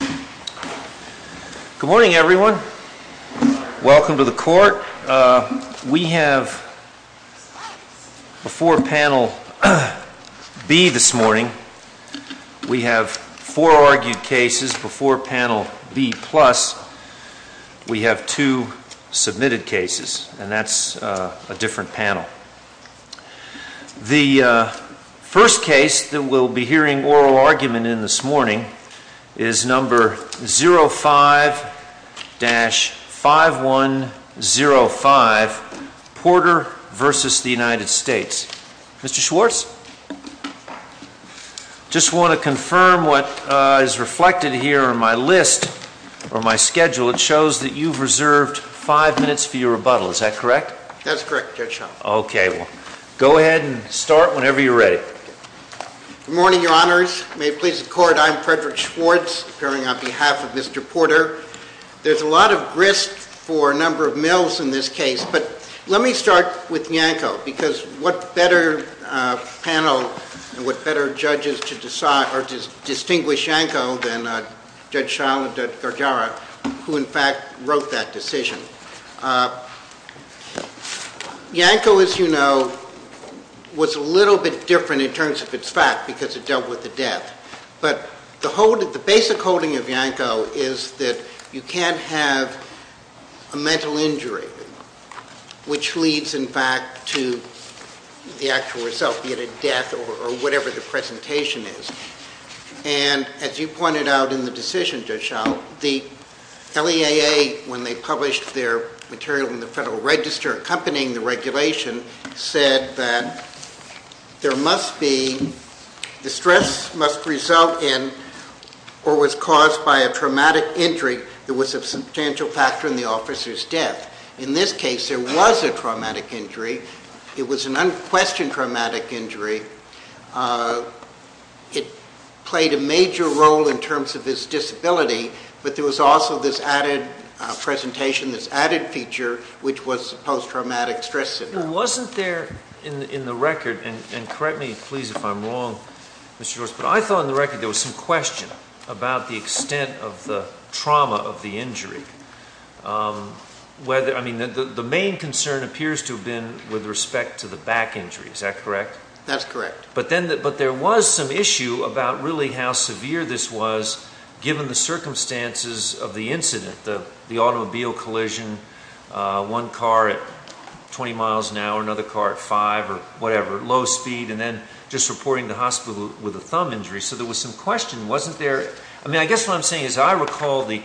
Good morning, everyone. Welcome to the Court. We have, before Panel B this morning, we have four argued cases. Before Panel B+, we have two submitted cases, and that's a different case. We have a case number 05-5105, Porter v. United States. Mr. Schwartz, I just want to confirm what is reflected here on my list or my schedule. It shows that you've reserved five minutes for your rebuttal. Is that correct? That's correct, Judge Schultz. Okay, well, go ahead and start whenever you're ready. Good morning, Your Honors. May it please the Court. On behalf of Mr. Porter, there's a lot of grist for a number of mills in this case, but let me start with Yanko, because what better panel and what better judges to decide or to distinguish Yanko than Judge Schall and Judge Gargiara, who in fact wrote that decision. Yanko, as you know, was a little bit different in terms of its fact, because it dealt with the death. But the basic holding of Yanko is that you can't have a mental injury, which leads, in fact, to the actual result, be it a death or whatever the presentation is. And as you pointed out in the decision, Judge Schall, the LEAA, when they published their material in the Federal Register accompanying the regulation, said that there must be the stress must result in or was caused by a traumatic injury that was a substantial factor in the officer's death. In this case, there was a traumatic injury. It was an unquestioned traumatic injury. It played a major role in terms of his disability, but there was also this added presentation, this added feature, which was post-traumatic stress syndrome. It wasn't there in the record, and correct me, please, if I'm wrong, Mr. George, but I thought in the record there was some question about the extent of the trauma of the injury. The main concern appears to have been with respect to the back injury. Is that correct? That's correct. But there was some issue about really how severe this was given the circumstances of the incident, the automobile collision, one car at 20 miles an hour, another car at 5 or whatever, low speed, and then just reporting the hospital with a thumb injury. So there was some question. I guess what I'm saying is I recall the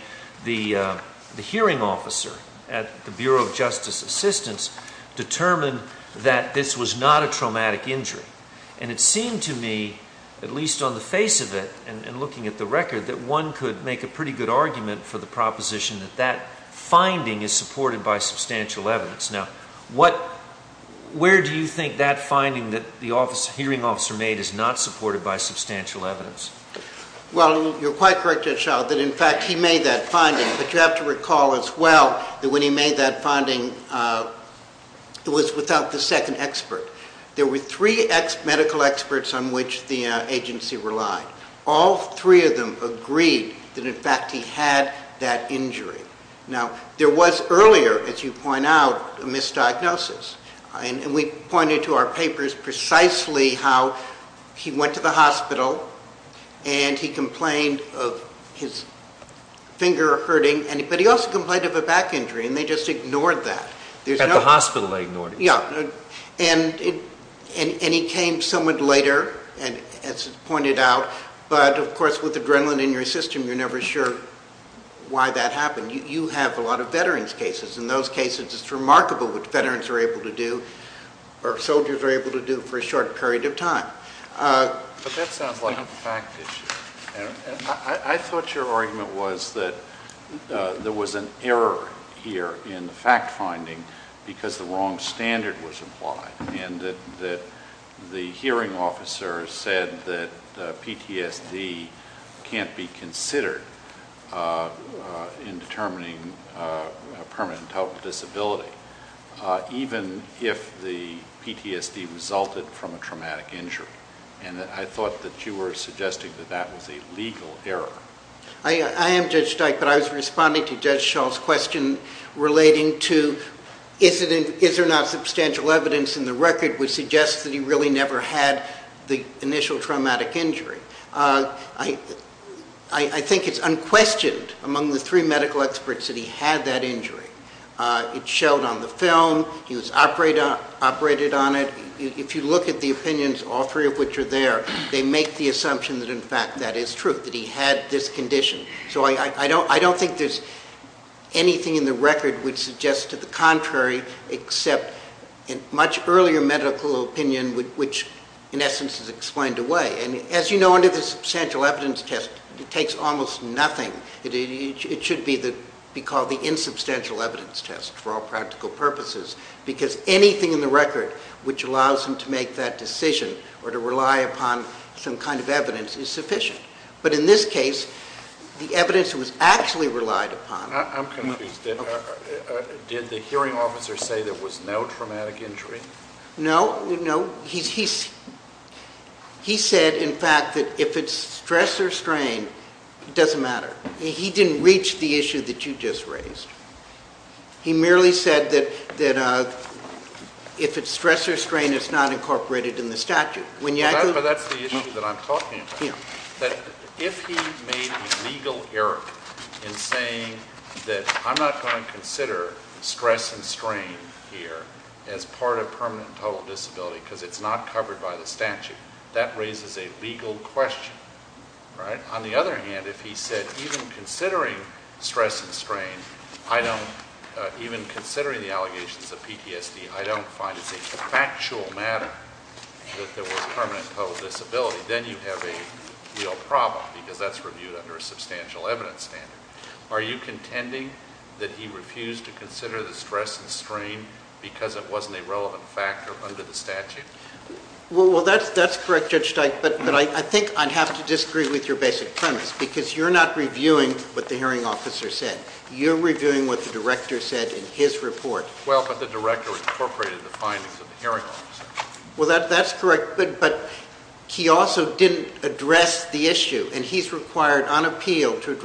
hearing officer at the Bureau of Justice Assistance determined that this was not a traumatic injury. And it seemed to me, at least on the face of it and looking at the record, that one could make a pretty good argument for the proposition that that was substantial evidence. Now, where do you think that finding that the hearing officer made is not supported by substantial evidence? Well, you're quite correct, Judge Schall, that in fact he made that finding. But you have to recall as well that when he made that finding, it was without the second expert. There were three medical experts on which the agency relied. All three of them agreed that in fact he had that injury. Now, there is, as you point out, a misdiagnosis. And we pointed to our papers precisely how he went to the hospital and he complained of his finger hurting, but he also complained of a back injury, and they just ignored that. At the hospital they ignored it. Yeah. And he came somewhat later, as pointed out, but of course with adrenaline in your system you're it's remarkable what veterans are able to do or soldiers are able to do for a short period of time. But that sounds like a fact issue. I thought your argument was that there was an error here in the fact finding because the wrong standard was applied and that the disability, even if the PTSD resulted from a traumatic injury. And I thought that you were suggesting that that was a legal error. I am, Judge Dyke, but I was responding to Judge Schall's question relating to is there not substantial evidence in the record which suggests that he really never had the initial traumatic injury. I think it's unquestioned among the three medical experts that he had that injury. It showed on the film. He was operated on it. If you look at the opinions, all three of which are there, they make the assumption that in fact that is true, that he had this condition. So I don't think there's anything in the record which suggests to the contrary except in much earlier medical opinion which in essence is explained away. And as you know under the substantial evidence test it takes almost nothing. It should be called the insubstantial evidence test for all practical purposes because anything in the record which allows him to make that decision or to rely upon some kind of evidence is sufficient. But in this case, the evidence was actually relied upon. I'm confused. Did the hearing officer say there was no traumatic injury? No, no. He said in fact that if it's stress or strain, it doesn't matter. He didn't reach the issue that you just raised. He merely said that if it's stress or strain it's not incorporated in the statute. But that's the issue that I'm talking about. If he made a legal error in saying that I'm not going to consider stress and strain here as part of permanent total disability because it's not covered by the statute, that raises a legal question. On the other hand, if he said even considering stress and strain, even considering the allegations of PTSD, I don't find it's a factual matter that there was permanent total disability, then you have a real problem because that's reviewed under a substantial evidence standard. Are you contending that he refused to consider the stress and strain because it wasn't a relevant factor under the statute? Well, that's correct, Judge Steik, but I think I'd have to disagree with your basic premise because you're not reviewing what the hearing officer said. You're reviewing what the director said in his report. Well, but the director incorporated the findings of the hearing officer. Well, that's correct, but he also didn't address the issue, and he's required on appeal to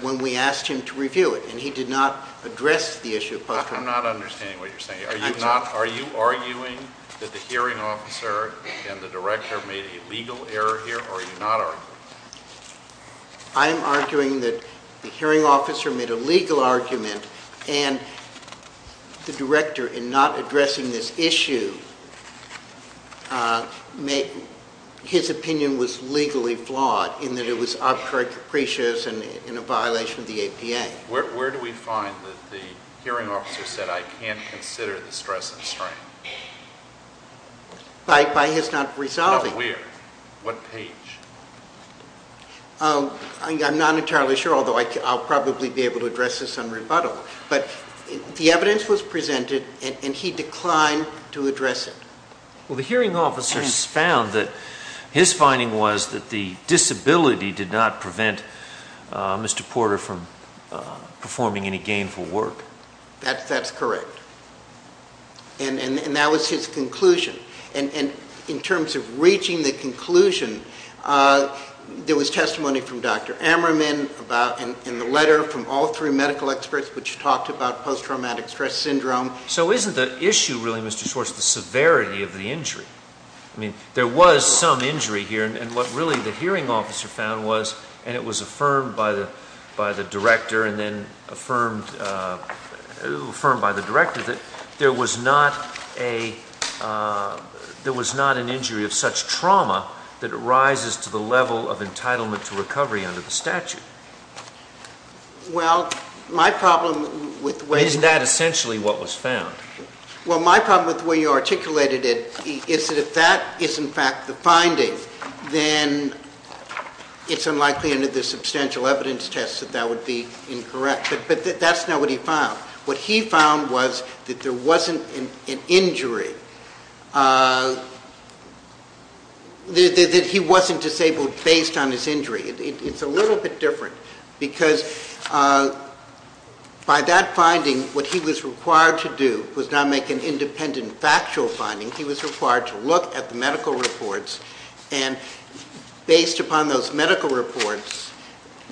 when we asked him to review it, and he did not address the issue of post-traumatic stress. I'm not understanding what you're saying. Are you arguing that the hearing officer and the director made a legal error here, or are you not arguing? I'm arguing that the hearing officer made a legal argument, and the director, in not addressing this issue, his opinion was legally flawed in that it was obtrusive and it was in a violation of the APA. Where do we find that the hearing officer said, I can't consider the stress and strain? By his not resolving it. Now, where? What page? I'm not entirely sure, although I'll probably be able to address this on rebuttal, but the evidence was presented, and he declined to address it. Well, the hearing officer's found that his finding was that the disability did not prevent Mr. Porter from performing any gainful work. That's correct. And that was his conclusion. And in terms of reaching the conclusion, there was testimony from Dr. Ammerman and the letter from all three medical experts which talked about post-traumatic stress syndrome. So isn't the issue really, Mr. Schwartz, the severity of the injury? I mean, there was some injury here, and what really the hearing officer found was, and it was affirmed by the director, and then affirmed by the director, that there was not an injury of such trauma that rises to the level of entitlement to recovery under the statute. Well, my problem with the way you articulated it is that if that is in fact the problem of the finding, then it's unlikely under the substantial evidence test that that would be incorrect. But that's not what he found. What he found was that there wasn't an injury, that he wasn't disabled based on his injury. It's a little bit different, because by that finding, what he was required to do was not make an independent factual finding. He was required to make a determination, and based upon those medical reports,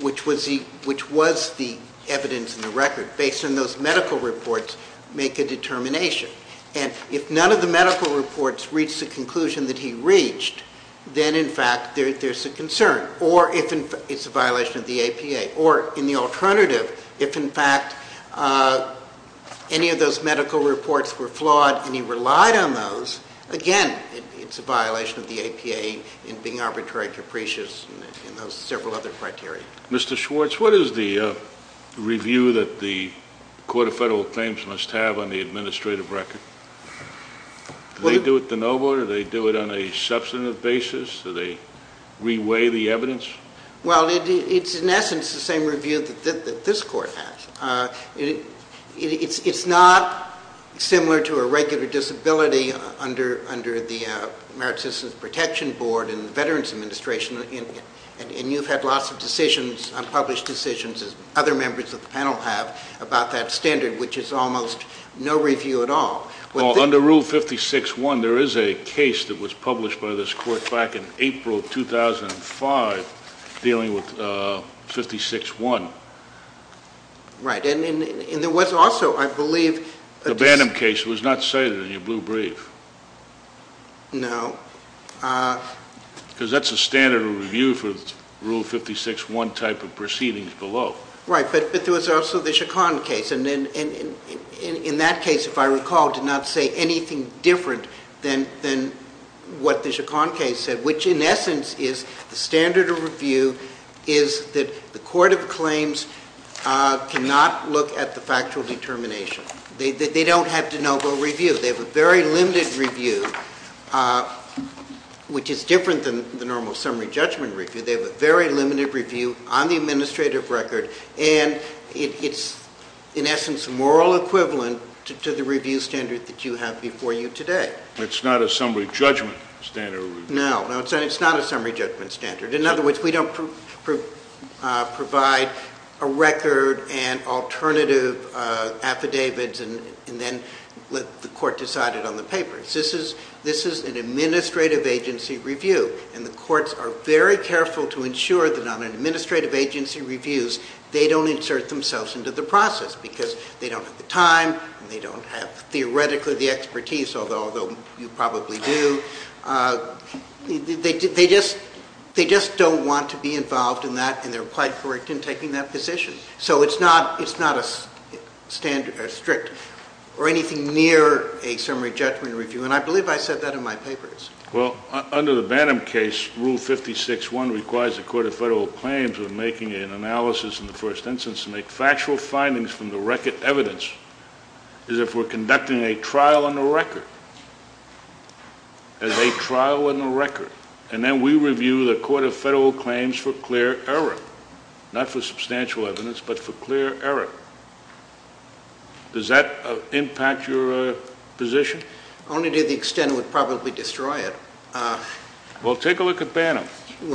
which was the evidence in the record, based on those medical reports, make a determination. And if none of the medical reports reach the conclusion that he reached, then in fact there's a concern, or it's a violation of the APA. Or in the alternative, if in fact any of those medical reports were flawed, and he relied on those, again, it's a violation of the APA in being arbitrary capricious in those several other criteria. Mr. Schwartz, what is the review that the Court of Federal Claims must have on the administrative record? Do they do it the no vote? Do they do it on a substantive basis? Do they re-weigh the evidence? Well, it's in essence the same review that this Court has. It's not the same review that similar to a regular disability under the Merit Citizens Protection Board and the Veterans Administration, and you've had lots of decisions, unpublished decisions, as other members of the panel have, about that standard, which is almost no review at all. Well, under Rule 56-1, there is a case that was published by this Court back in April 2005 dealing with 56-1. Right. And there was also, I believe... The Bantam case was not cited in your blue brief. No. Because that's a standard review for Rule 56-1 type of proceedings below. Right, but there was also the Chaconne case, and in that case, if I recall, did not say anything different than what the Chaconne case said, which in essence is the standard of review is that the Court of Claims cannot look at the factual determination. They don't have de novo review. They have a very limited review, which is different than the normal summary judgment review. They have a very limited review on the administrative record, and it's in essence moral equivalent to the review standard that you have before you today. It's not a summary judgment standard review. No, no, it's not a summary judgment standard. In other words, we don't provide a record and alternative affidavits and then let the Court decide it on the paper. This is an administrative agency review, and the courts are very careful to ensure that on administrative agency reviews, they don't insert themselves into the process because they don't have the time, they don't have theoretically the expertise, although you probably do. They just don't want to be involved in that, and they're quite correct in taking that position. So it's not a strict or anything near a summary judgment review, and I believe I said that in my papers. Well, under the Bantam case, Rule 56.1 requires the Court of Federal Claims when making an analysis in the first instance to make factual findings from the record evidence as if we're conducting a trial on the record, as a trial on the record, and then we review the Court of Federal Claims for clear error, not for substantial evidence, but for clear error. Does that impact your position? Only to the extent it would probably destroy it. Well, take a look at Bantam, and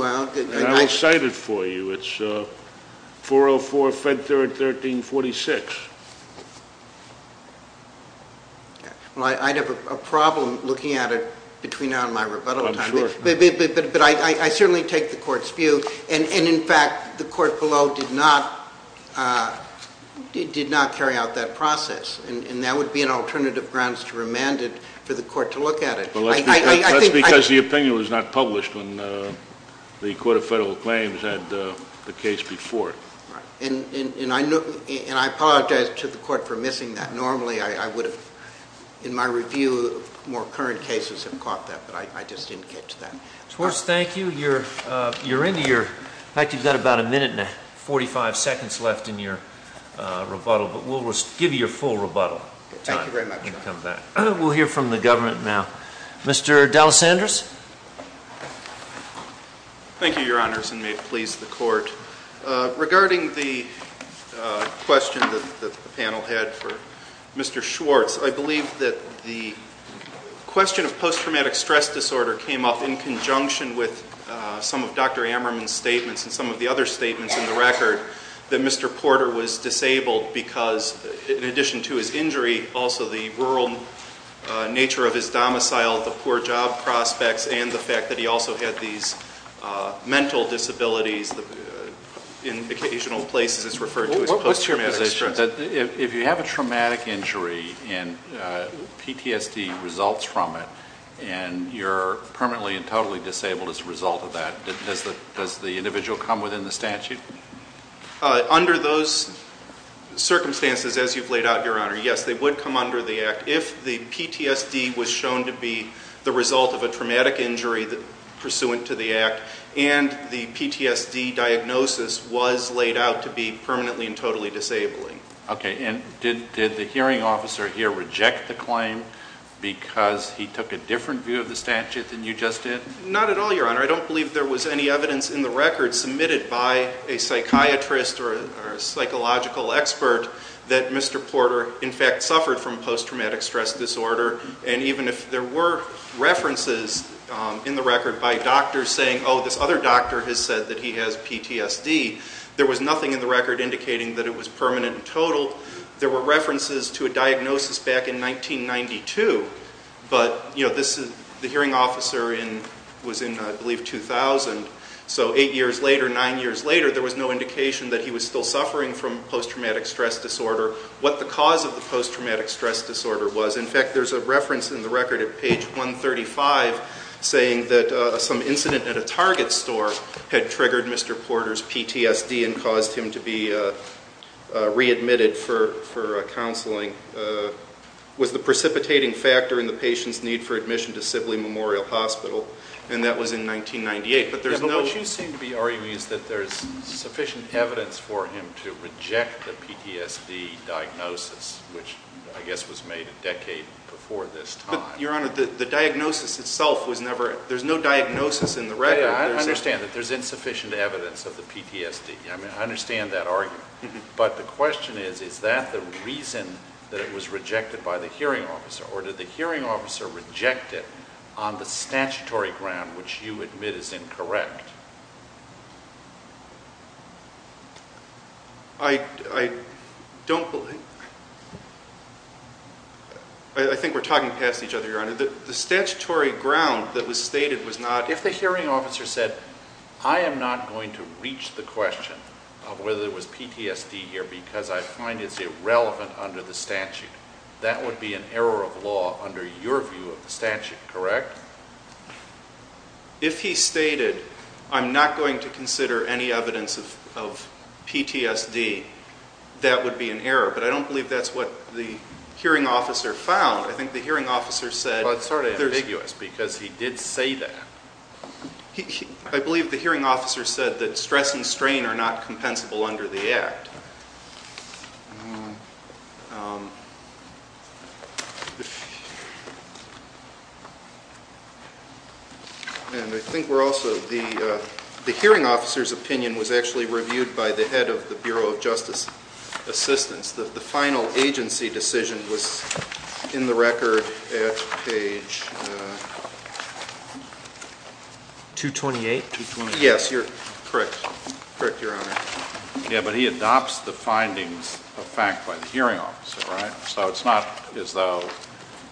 I'll cite it for you. It's 404, Fed 3rd, 1346. Well, I'd have a problem looking at it between now and my rebuttal time. I'm sure. But I certainly take the Court's view, and in fact, the Court below did not carry out that process, and that would be an alternative grounds to remand it for the Court to look at it. Well, that's because the opinion was not published when the Court of Federal Claims had the case before. And I apologize to the Court for missing that. Normally, I would have, in my review, more current cases have caught that, but I just didn't get to that. Schwartz, thank you. You're into your, in fact, you've got about a minute and 45 seconds left in your rebuttal, but we'll give you your full rebuttal time when you come back. Thank you very much. We'll hear from the government now. Mr. Dalles-Anders? Thank you, Your Honors, and may it please the Court. Regarding the question that the panel had for Mr. Schwartz, I believe that the question of post-traumatic stress disorder came up in conjunction with some of Dr. Ammerman's statements and some of the other statements in the record that Mr. Porter was disabled because, in addition to his injury, also the rural nature of his domicile, the poor job prospects, and the fact that he also had these mental disabilities in occasional places is referred to as post-traumatic stress. What's your position that if you have a traumatic injury and PTSD results from it, and you're permanently and totally disabled as a result of that, does the individual come within the statute? Under those circumstances, as you've laid out, Your Honor, yes, they would come under the act if the PTSD was shown to be the result of a traumatic injury pursuant to the act and the PTSD diagnosis was laid out to be permanently and totally disabling. Okay, and did the hearing officer here reject the claim because he took a different view of the statute than you just did? Not at all, Your Honor. I don't believe there was any evidence in the record submitted by a psychiatrist or a psychological expert that Mr. Porter, in fact, suffered from post-traumatic stress disorder, and even if there were references in the record by doctors saying, oh, this other doctor has said that he has PTSD, there was nothing in the record indicating that it was permanent and total. There were references to a diagnosis back in 1992, but, you know, this is the hearing officer was in, I believe, 2000, so eight years later, nine years later, there was no indication that he was still suffering from post-traumatic stress disorder. What the cause of the post-traumatic stress disorder was, in fact, there's a reference in the record at page 135 saying that some incident at a Target store had triggered Mr. Porter's PTSD and caused him to be readmitted for counseling. It was the precipitating factor in the patient's need for admission to Sibley Memorial Hospital, and that was in 1998. But there's no— Yeah, but what you seem to be arguing is that there's sufficient evidence for him to reject the PTSD diagnosis, which, I guess, was made a decade before this time. Your Honor, the diagnosis itself was never—there's no diagnosis in the record. Yeah, I understand that there's insufficient evidence of the PTSD. I mean, I understand that argument, but the question is, is that the reason that it was rejected by the hearing officer, or did the hearing officer reject it on the statutory ground, which you admit is incorrect? I don't believe—I think we're talking past each other, Your Honor. The statutory ground that was stated was not— If the hearing officer said, I am not going to reach the question of whether it was PTSD here because I find it's irrelevant under the statute, that would be an error of law under your view of the statute, correct? If he stated, I'm not going to consider any evidence of PTSD, that would be an error, but I don't believe that's what the hearing officer found. I think the hearing officer said— I believe the hearing officer said that stress and strain are not compensable under the Act. And I think we're also—the hearing officer's opinion was actually reviewed by the head of the Bureau of Justice Assistance. The final agency decision was in the record at page 228? Yes, you're correct. Correct, Your Honor. Yeah, but he adopts the findings of fact by the hearing officer, right? So it's not as though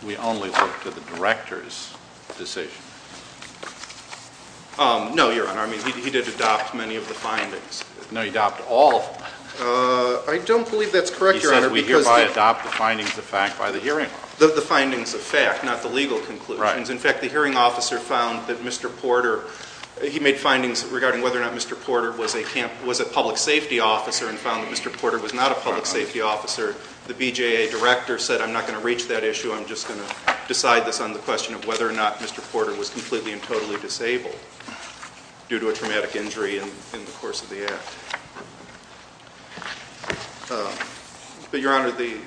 we only look to the director's decision. No, Your Honor. I mean, he did adopt many of the findings. No, he adopted all of them. I don't believe that's correct, Your Honor, because— He says we hereby adopt the findings of fact by the hearing officer. The findings of fact, not the legal conclusions. Right. In fact, the hearing officer found that Mr. Porter—he made findings regarding whether or not Mr. Porter was a public safety officer and found that Mr. Porter was not a public safety officer. The BJA director said, I'm not going to reach that issue. I'm just going to decide this on the question of whether or not Mr. Porter was completely and totally disabled due to a traumatic injury in the course of the Act. But, Your Honor, the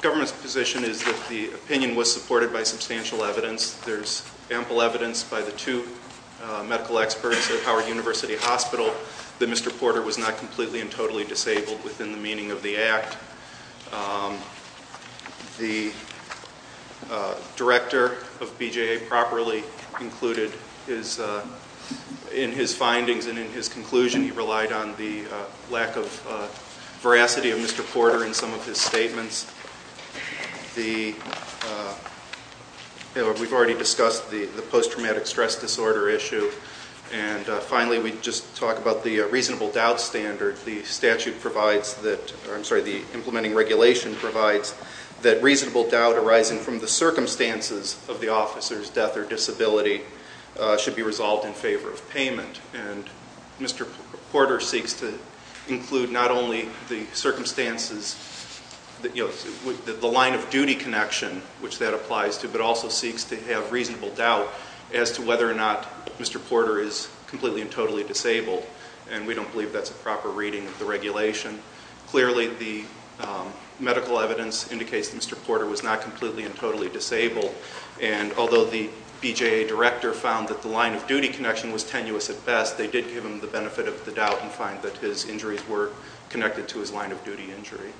government's position is that the opinion was supported by substantial evidence. There's ample evidence by the two medical experts at Howard University Hospital that Mr. Porter was not completely and totally disabled within the meaning of the Act. The director of BJA properly included in his findings and in his conclusion, he relied on the lack of veracity of Mr. Porter in some of his statements. We've already discussed the post-traumatic stress disorder issue. And finally, we just talked about the reasonable doubt standard. The statute provides that—I'm sorry, the implementing regulation provides that reasonable doubt arising from the circumstances of the officer's death or disability should be Mr. Porter seeks to include not only the circumstances, the line of duty connection, which that applies to, but also seeks to have reasonable doubt as to whether or not Mr. Porter is completely and totally disabled. And we don't believe that's a proper reading of the regulation. Clearly, the medical evidence indicates that Mr. Porter was not completely and totally disabled. And although the BJA director found that the line of duty connection was tenuous at best, they did give him the benefit of the doubt and find that his injuries were connected to his line of duty injury.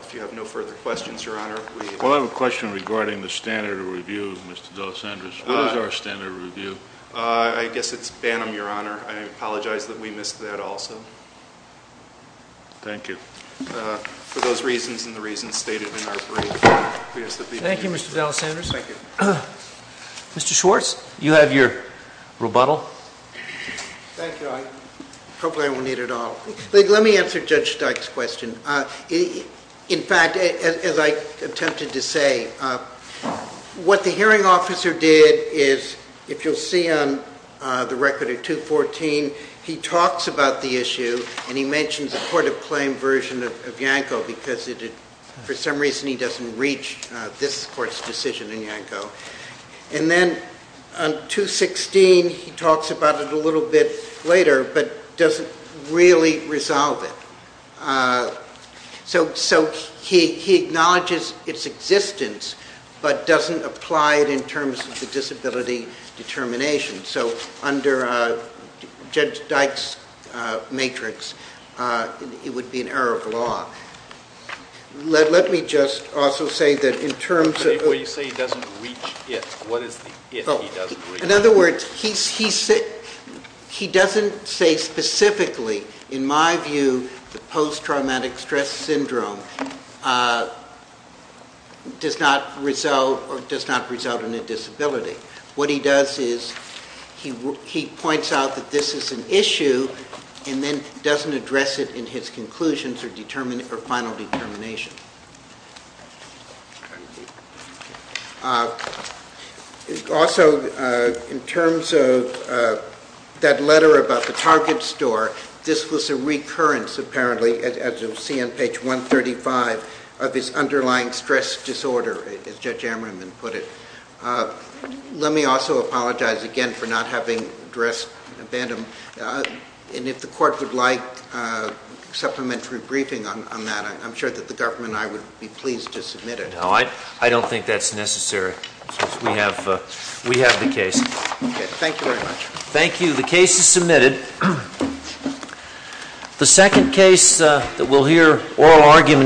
If you have no further questions, Your Honor, we— We'll have a question regarding the standard review, Mr. D'Alessandris. What is our standard review? I guess it's Banham, Your Honor. I apologize that we missed that also. Thank you. For those reasons and the reasons stated in our brief, we ask that the— Thank you, Mr. D'Alessandris. Thank you. Mr. Schwartz, you have your rebuttal. Thank you. I probably won't need it at all. Let me answer Judge Steik's question. In fact, as I attempted to say, what the hearing officer did is, if you'll see on the record of 214, he talks about the issue and he mentions a court of claim version of Yanko because for some reason he doesn't reach this court's decision in Yanko. And then on 216, he talks about it a little bit later but doesn't really resolve it. So he acknowledges its existence but doesn't apply it in terms of the disability determination. So under Judge Steik's matrix, it would be an error of law. Let me just also say that in terms of— But you say he doesn't reach it. What is the it he doesn't reach? In other words, he doesn't say specifically. In my view, the post-traumatic stress syndrome does not result in a disability. What he does is he points out that this is an issue and then doesn't address it in his conclusions or final determination. Also, in terms of that letter about the Target store, this was a recurrence apparently, as you'll see on page 135, of this underlying stress disorder, as Judge Ammerman put it. Let me also apologize again for not having addressed Vandam. And if the Court would like supplementary briefing on that, I'm sure that the government and I would be pleased to submit it. No, I don't think that's necessary. We have the case. Thank you very much. Thank you. The case is submitted. The second case that we'll hear oral argument—